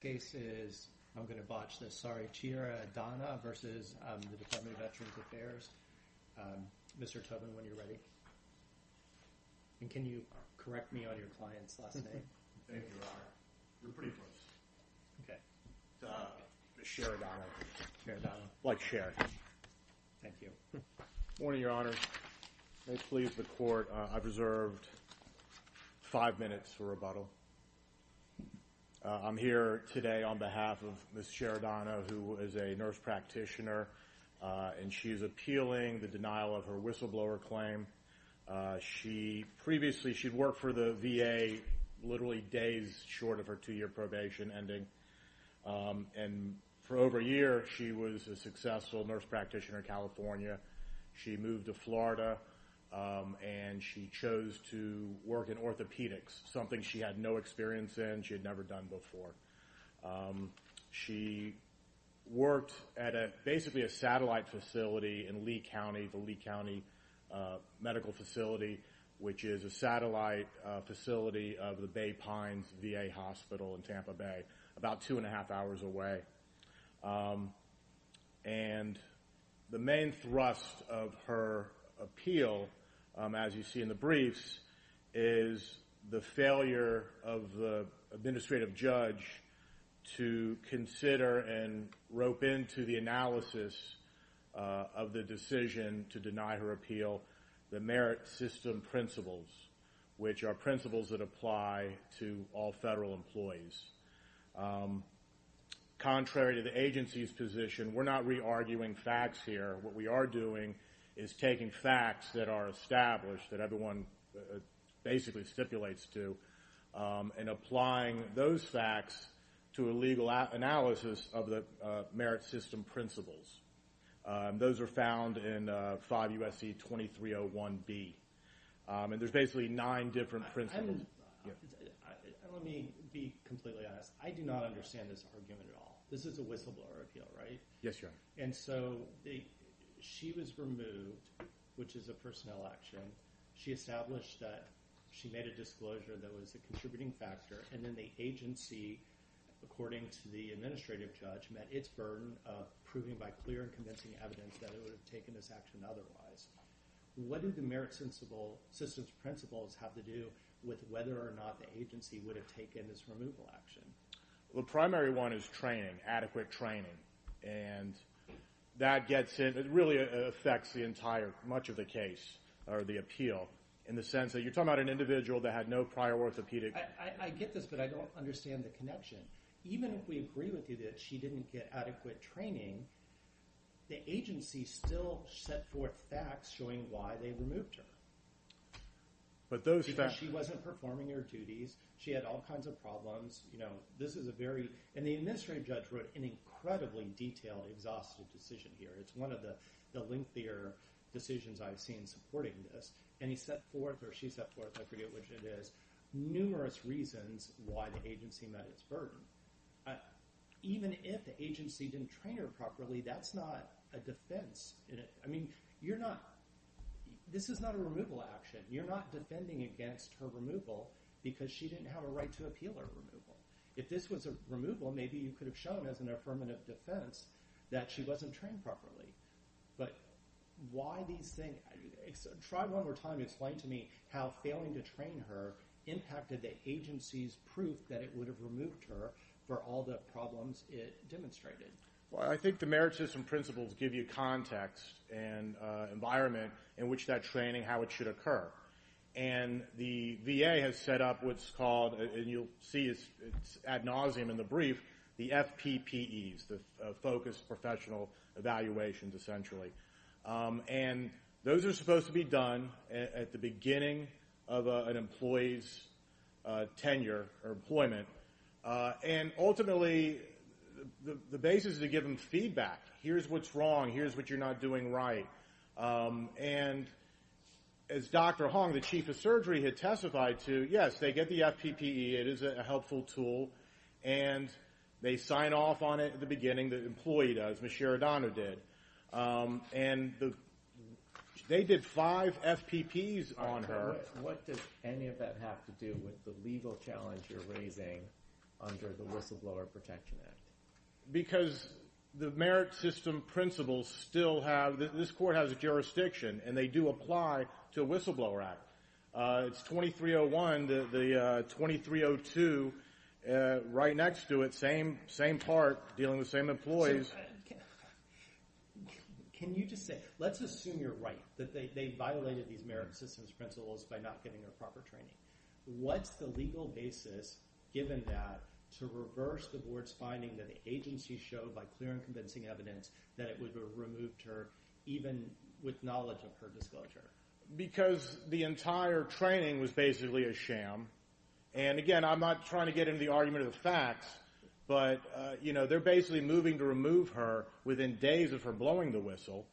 The case is, I'm going to botch this, sorry, Chiaradonna v. Department of Veterans Affairs. Mr. Tobin, when you're ready. And can you correct me on your client's last name? Thank you, Your Honor. You're pretty close. Okay. It's Chiaradonna. Chiaradonna. Like Cher. Thank you. Good morning, Your Honor. May it please the Court, I've reserved five minutes for rebuttal. I'm here today on behalf of Ms. Chiaradonna, who is a nurse practitioner, and she's appealing the denial of her whistleblower claim. Previously, she'd worked for the VA literally days short of her two-year probation ending. And for over a year, she was a successful nurse practitioner in California. She moved to Florida, and she chose to work in orthopedics, something she had no experience in, she had never done before. She worked at basically a satellite facility in Lee County, the Lee County Medical Facility, which is a satellite facility of the Bay Pines VA Hospital in Tampa Bay, about two and a half hours away. And the main thrust of her appeal, as you see in the briefs, is the failure of the administrative judge to consider and rope into the analysis of the decision to deny her appeal the merit system principles, which are principles that apply to all federal employees. Contrary to the agency's position, we're not re-arguing facts here. What we are doing is taking facts that are established, that everyone basically stipulates to, and applying those facts to a legal analysis of the merit system principles. Those are found in 5 U.S.C. 2301B. And there's basically nine different principles. Let me be completely honest. I do not understand this argument at all. This is a whistleblower appeal, right? Yes, Your Honor. And so she was removed, which is a personnel action. She established that she made a disclosure that was a contributing factor, and then the agency, according to the administrative judge, met its burden of proving by clear and convincing evidence that it would have taken this action otherwise. What do the merit system principles have to do with whether or not the agency would have taken this removal action? Well, the primary one is training, adequate training. And that gets in—it really affects the entire—much of the case, or the appeal, in the sense that you're talking about an individual that had no prior orthopedic— I get this, but I don't understand the connection. Even if we agree with you that she didn't get adequate training, the agency still set forth facts showing why they removed her. But those facts— She wasn't performing her duties. She had all kinds of problems. This is a very—and the administrative judge wrote an incredibly detailed, exhaustive decision here. It's one of the lengthier decisions I've seen supporting this. And he set forth, or she set forth, I forget which it is, numerous reasons why the agency met its burden. Even if the agency didn't train her properly, that's not a defense. I mean, you're not—this is not a removal action. You're not defending against her removal because she didn't have a right to appeal her removal. If this was a removal, maybe you could have shown as an affirmative defense that she wasn't trained properly. But why these things—try one more time to explain to me how failing to train her impacted the agency's proof that it would have removed her for all the problems it demonstrated. Well, I think the merit system principles give you context and environment in which that training, how it should occur. And the VA has set up what's called—and you'll see it's ad nauseum in the brief— the FPPEs, the Focused Professional Evaluations, essentially. And those are supposed to be done at the beginning of an employee's tenure or employment. And ultimately, the basis is to give them feedback. Here's what's wrong. Here's what you're not doing right. And as Dr. Hong, the chief of surgery, had testified to, yes, they get the FPPE. It is a helpful tool. And they sign off on it at the beginning, the employee does, Ms. Sheridano did. And they did five FPPEs on her. What does any of that have to do with the legal challenge you're raising under the Whistleblower Protection Act? Because the merit system principles still have—this court has a jurisdiction, and they do apply to a whistleblower act. It's 2301. The 2302, right next to it, same part, dealing with same employees. Can you just say—let's assume you're right, that they violated these merit systems principles by not getting her proper training. What's the legal basis, given that, to reverse the board's finding that the agency showed by clear and convincing evidence that it would have removed her even with knowledge of her disclosure? Because the entire training was basically a sham. And, again, I'm not trying to get into the argument of the facts, but they're basically moving to remove her within days of her blowing the whistle.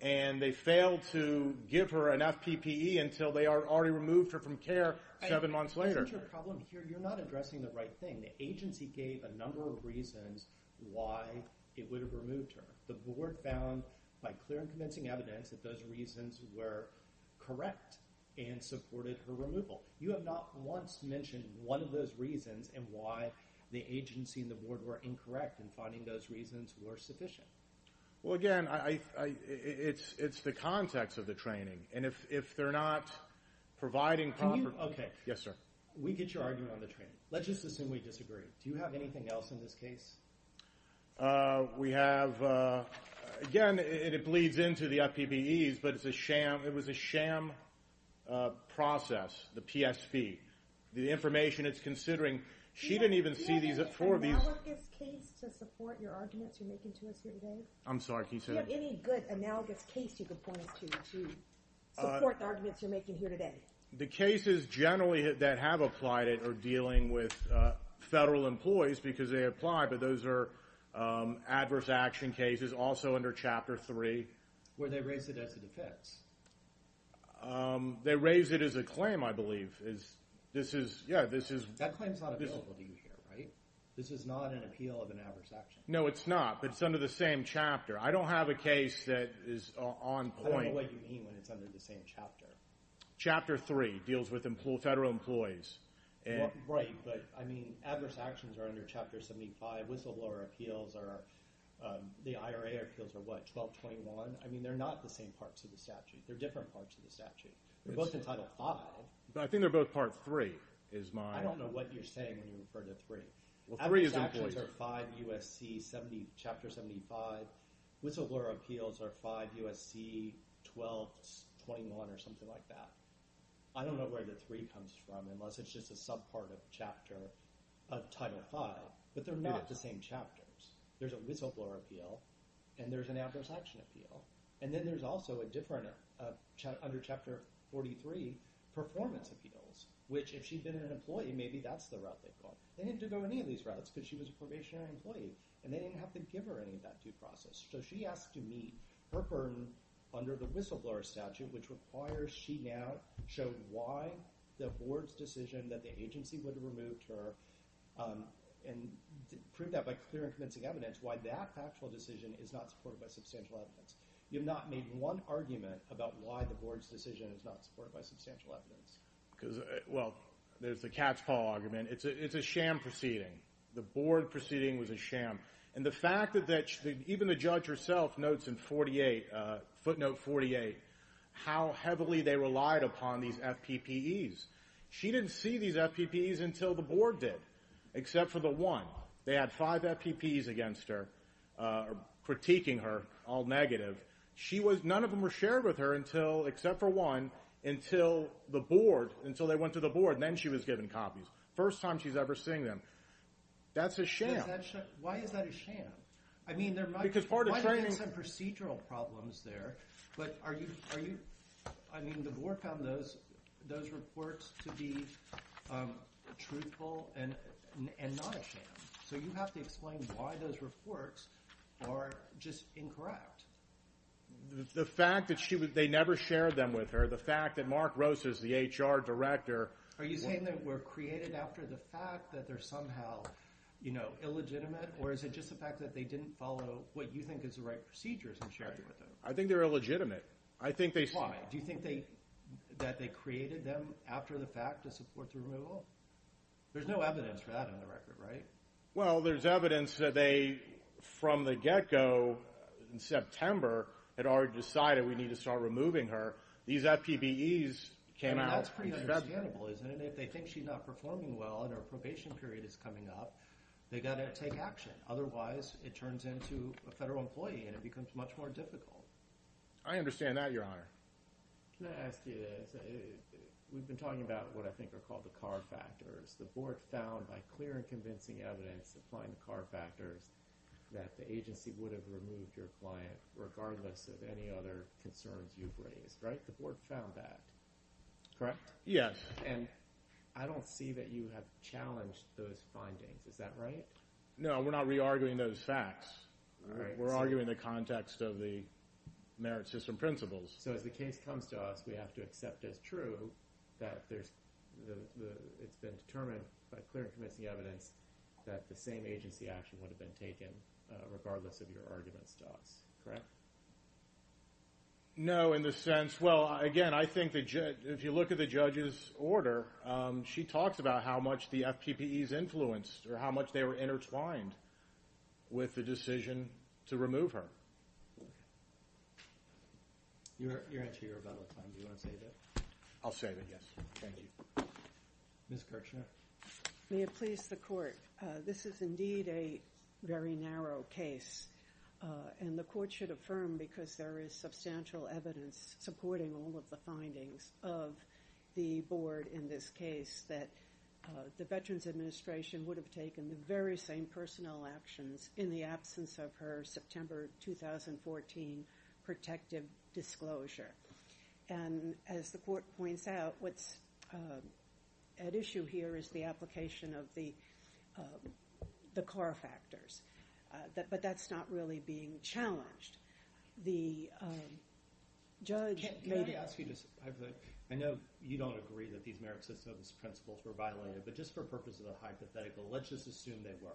And they failed to give her enough PPE until they already removed her from care seven months later. That's your problem here. You're not addressing the right thing. The agency gave a number of reasons why it would have removed her. The board found, by clear and convincing evidence, that those reasons were correct and supported her removal. You have not once mentioned one of those reasons and why the agency and the board were incorrect in finding those reasons were sufficient. Well, again, it's the context of the training. And if they're not providing proper— Can you—OK. Yes, sir. We get your argument on the training. Let's just assume we disagree. Do you have anything else in this case? We have—again, it bleeds into the PPEs, but it's a sham. It was a sham process, the PSP, the information it's considering. She didn't even see these at 4B. Do you have any good analogous case to support your arguments you're making to us here today? I'm sorry. Can you say that? Do you have any good analogous case you can point us to to support the arguments you're making here today? The cases generally that have applied it are dealing with federal employees because they applied, but those are adverse action cases also under Chapter 3. Where they raise it as a defense. They raise it as a claim, I believe. This is—yeah, this is— That claim's not available to you here, right? This is not an appeal of an adverse action. No, it's not, but it's under the same chapter. I don't have a case that is on point. I don't know what you mean when it's under the same chapter. Chapter 3 deals with federal employees. Right, but, I mean, adverse actions are under Chapter 75. Whistleblower appeals are—the IRA appeals are what, 1221? I mean, they're not the same parts of the statute. They're different parts of the statute. They're both in Title 5. But I think they're both Part 3, is my— I don't know what you're saying when you refer to 3. Adverse actions are 5 U.S.C. 70—Chapter 75. Whistleblower appeals are 5 U.S.C. 1221 or something like that. I don't know where the 3 comes from, unless it's just a subpart of Chapter—of Title 5. But they're not the same chapters. There's a whistleblower appeal, and there's an adverse action appeal. And then there's also a different—under Chapter 43, performance appeals, which, if she'd been an employee, maybe that's the route they'd go. They didn't have to go any of these routes because she was a probationary employee, and they didn't have to give her any of that due process. So she has to meet her burden under the whistleblower statute, which requires she now show why the board's decision that the agency would have removed her and prove that by clear and convincing evidence, why that factual decision is not supported by substantial evidence. You have not made one argument about why the board's decision is not supported by substantial evidence. Well, there's the cat's paw argument. It's a sham proceeding. The board proceeding was a sham. And the fact that even the judge herself notes in footnote 48 how heavily they relied upon these FPPEs. She didn't see these FPPEs until the board did, except for the one. They had five FPPEs against her, critiquing her, all negative. She was—none of them were shared with her until—except for one—until the board, until they went to the board, and then she was given copies. First time she's ever seen them. That's a sham. Why is that a sham? I mean, there might be some procedural problems there. But are you—I mean, the board found those reports to be truthful and not a sham. So you have to explain why those reports are just incorrect. The fact that they never shared them with her, the fact that Mark Rosas, the HR director— Or is it just the fact that they didn't follow what you think is the right procedures in sharing with her? I think they're illegitimate. Why? Do you think that they created them after the fact to support the removal? There's no evidence for that on the record, right? Well, there's evidence that they, from the get-go in September, had already decided we need to start removing her. These FPPEs came out— That's pretty understandable, isn't it? If they think she's not performing well and her probation period is coming up, they've got to take action. Otherwise, it turns into a federal employee and it becomes much more difficult. I understand that, Your Honor. Can I ask you this? We've been talking about what I think are called the car factors. The board found, by clear and convincing evidence applying the car factors, that the agency would have removed your client regardless of any other concerns you've raised, right? The board found that, correct? Yeah. And I don't see that you have challenged those findings. Is that right? No, we're not re-arguing those facts. We're arguing the context of the merit system principles. So as the case comes to us, we have to accept as true that it's been determined by clear and convincing evidence that the same agency action would have been taken regardless of your arguments to us, correct? No, in the sense— Again, I think if you look at the judge's order, she talks about how much the FPPEs influenced or how much they were intertwined with the decision to remove her. Your answer, Your Honor, is out of time. Do you want to save it? I'll save it, yes. Thank you. May it please the court. This is indeed a very narrow case. And the court should affirm, because there is substantial evidence supporting all of the findings of the board in this case, that the Veterans Administration would have taken the very same personnel actions in the absence of her September 2014 protective disclosure. And as the court points out, what's at issue here is the application of the CAR factors. But that's not really being challenged. The judge— May I ask you to—I know you don't agree that these merit system principles were violated, but just for purposes of hypothetical, let's just assume they were.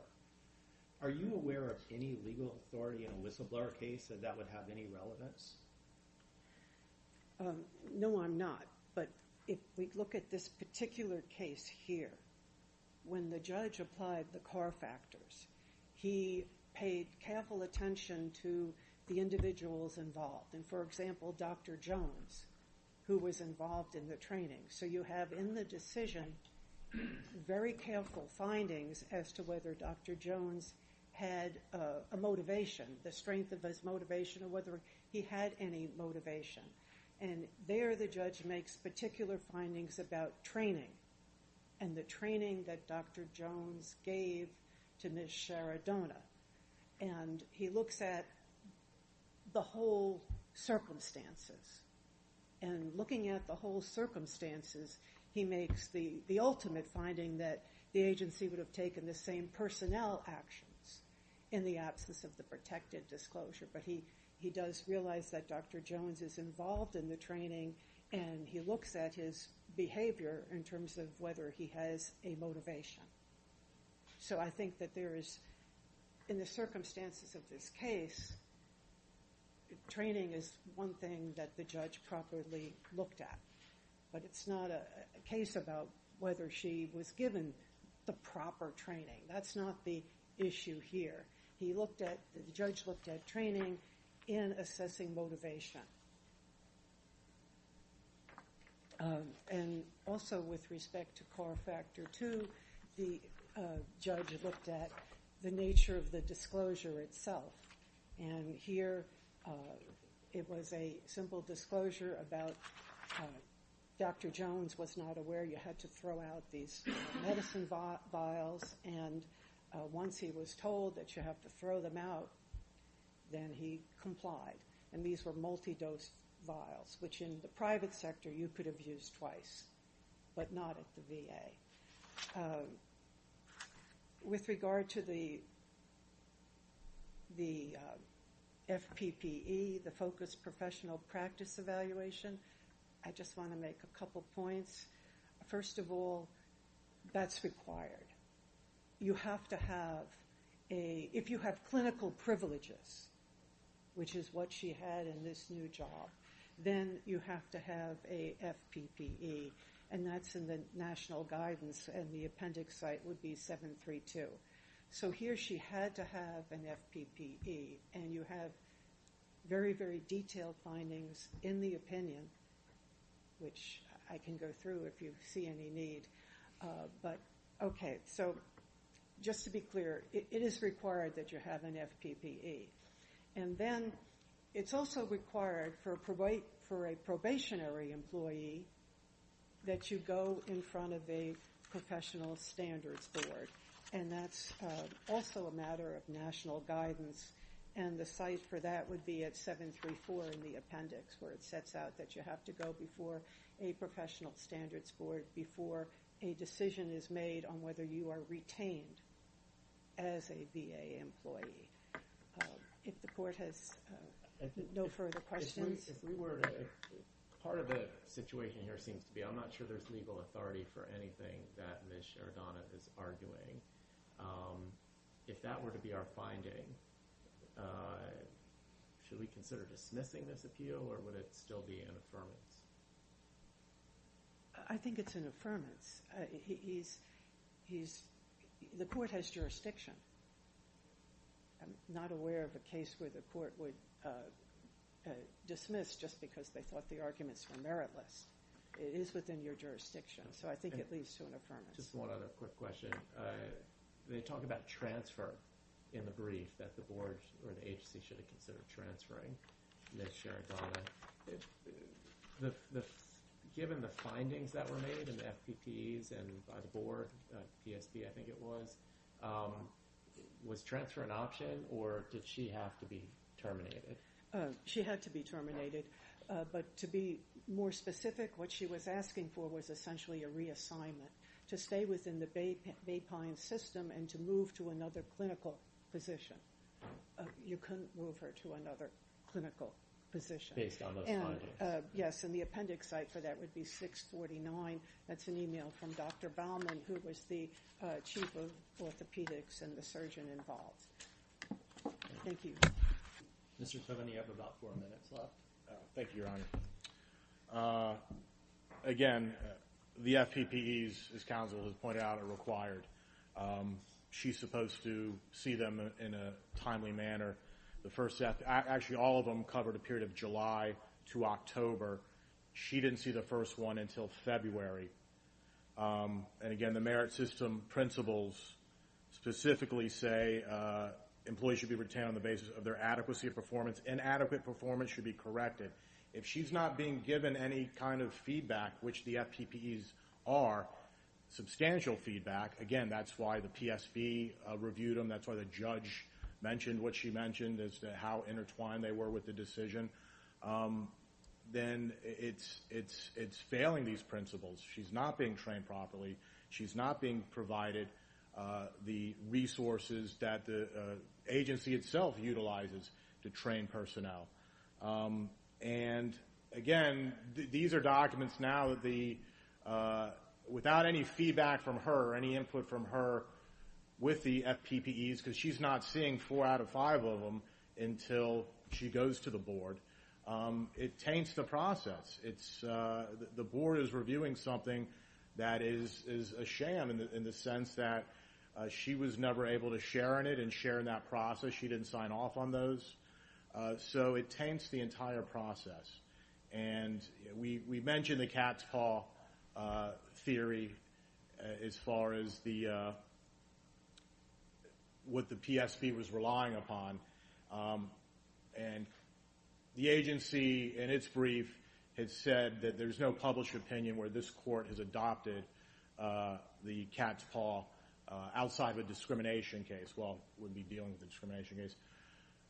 Are you aware of any legal authority in a whistleblower case that that would have any relevance? No, I'm not. But if we look at this particular case here, when the judge applied the CAR factors, he paid careful attention to the individuals involved. And, for example, Dr. Jones, who was involved in the training. So you have in the decision very careful findings as to whether Dr. Jones had a motivation, the strength of his motivation, or whether he had any motivation. And there the judge makes particular findings about training and the training that Dr. Jones gave to Ms. Sharadona. And he looks at the whole circumstances. And looking at the whole circumstances, he makes the ultimate finding that the agency would have taken the same personnel actions in the absence of the protected disclosure. But he does realize that Dr. Jones is involved in the training, and he looks at his behavior in terms of whether he has a motivation. So I think that there is, in the circumstances of this case, training is one thing that the judge properly looked at. But it's not a case about whether she was given the proper training. That's not the issue here. He looked at, the judge looked at training in assessing motivation. And also with respect to core factor two, the judge looked at the nature of the disclosure itself. And here it was a simple disclosure about Dr. Jones was not aware you had to throw out these medicine vials. And once he was told that you have to throw them out, then he complied. And these were multi-dose vials, which in the private sector you could have used twice, but not at the VA. With regard to the FPPE, the focused professional practice evaluation, I just want to make a couple points. First of all, that's required. You have to have a, if you have clinical privileges, which is what she had in this new job, then you have to have a FPPE. And that's in the national guidance, and the appendix site would be 732. So here she had to have an FPPE. And you have very, very detailed findings in the opinion, which I can go through if you see any need. But, okay, so just to be clear, it is required that you have an FPPE. And then it's also required for a probationary employee that you go in front of a professional standards board. And that's also a matter of national guidance, and the site for that would be at 734 in the appendix, where it sets out that you have to go before a professional standards board before a decision is made on whether you are retained as a VA employee. If the court has no further questions. If we were to, part of the situation here seems to be I'm not sure there's legal authority for anything that Ms. Sherdonoff is arguing. If that were to be our finding, should we consider dismissing this appeal, or would it still be an affirmance? I think it's an affirmance. The court has jurisdiction. I'm not aware of a case where the court would dismiss just because they thought the arguments were meritless. It is within your jurisdiction, so I think it leads to an affirmance. Just one other quick question. They talk about transfer in the brief that the board or the agency should have considered transferring Ms. Sherdonoff. Given the findings that were made in the FPPEs and by the board, PSB I think it was, was transfer an option, or did she have to be terminated? She had to be terminated. But to be more specific, what she was asking for was essentially a reassignment. To stay within the Bay Pine system and to move to another clinical position. You couldn't move her to another clinical position. Based on those findings. Yes, and the appendix site for that would be 649. That's an email from Dr. Baumann, who was the chief of orthopedics and the surgeon involved. Thank you. Mr. Tovani, you have about four minutes left. Thank you, Your Honor. Again, the FPPEs, as counsel has pointed out, are required. She's supposed to see them in a timely manner. The first set, actually all of them covered a period of July to October. She didn't see the first one until February. Again, the merit system principles specifically say employees should be retained on the basis of their adequacy of performance. Inadequate performance should be corrected. If she's not being given any kind of feedback, which the FPPEs are, substantial feedback, again, that's why the PSB reviewed them, that's why the judge mentioned what she mentioned, as to how intertwined they were with the decision, then it's failing these principles. She's not being trained properly. She's not being provided the resources that the agency itself utilizes to train personnel. And, again, these are documents now without any feedback from her or any input from her with the FPPEs because she's not seeing four out of five of them until she goes to the board. It taints the process. The board is reviewing something that is a sham in the sense that she was never able to share in it and share in that process. She didn't sign off on those. So it taints the entire process. And we mentioned the CATS Call theory as far as what the PSB was relying upon. And the agency, in its brief, had said that there's no published opinion where this court has adopted the CATS Call outside of a discrimination case. Well, it wouldn't be dealing with a discrimination case.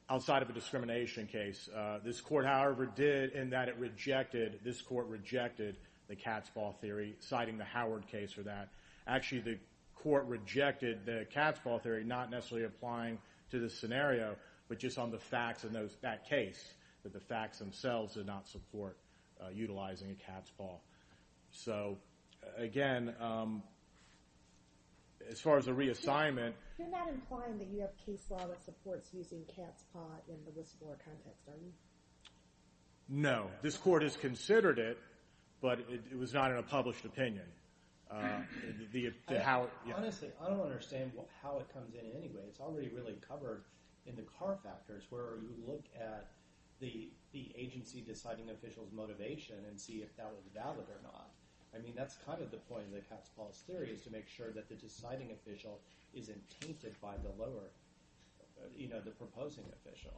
Outside of a discrimination case. This court, however, did in that it rejected, this court rejected the CATS Call theory, citing the Howard case for that. Actually, the court rejected the CATS Call theory, not necessarily applying to this scenario, but just on the facts in that case, that the facts themselves did not support utilizing a CATS Call. So, again, as far as a reassignment. You're not implying that you have case law that supports using CATS Call in the whistleblower context, are you? No. This court has considered it, but it was not in a published opinion. Honestly, I don't understand how it comes in anyway. It's already really covered in the car factors where you look at the agency deciding official's motivation and see if that was valid or not. I mean, that's kind of the point of the CATS Call theory is to make sure that the deciding official isn't tainted by the lower, you know, the proposing official.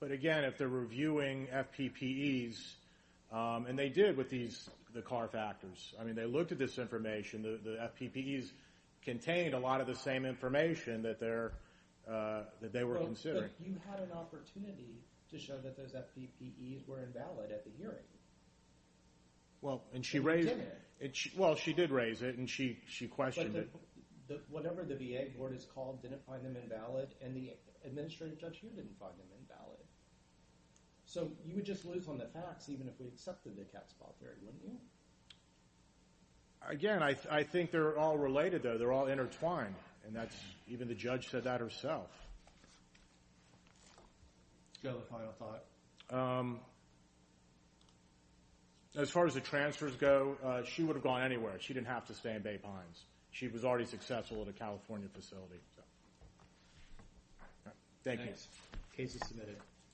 But, again, if they're reviewing FPPEs, and they did with the car factors. I mean, they looked at this information. The FPPEs contained a lot of the same information that they were considering. But you had an opportunity to show that those FPPEs were invalid at the hearing. Well, and she raised it. And you did it. Well, she did raise it, and she questioned it. But whatever the VA board has called didn't find them invalid, and the administrative judge here didn't find them invalid. So you would just lose on the facts even if we accepted the CATS Call theory, wouldn't you? Again, I think they're all related, though. They're all intertwined, and even the judge said that herself. Go to the final thought. As far as the transfers go, she would have gone anywhere. She didn't have to stay in Bay Pines. She was already successful at a California facility. Thank you. Case is submitted.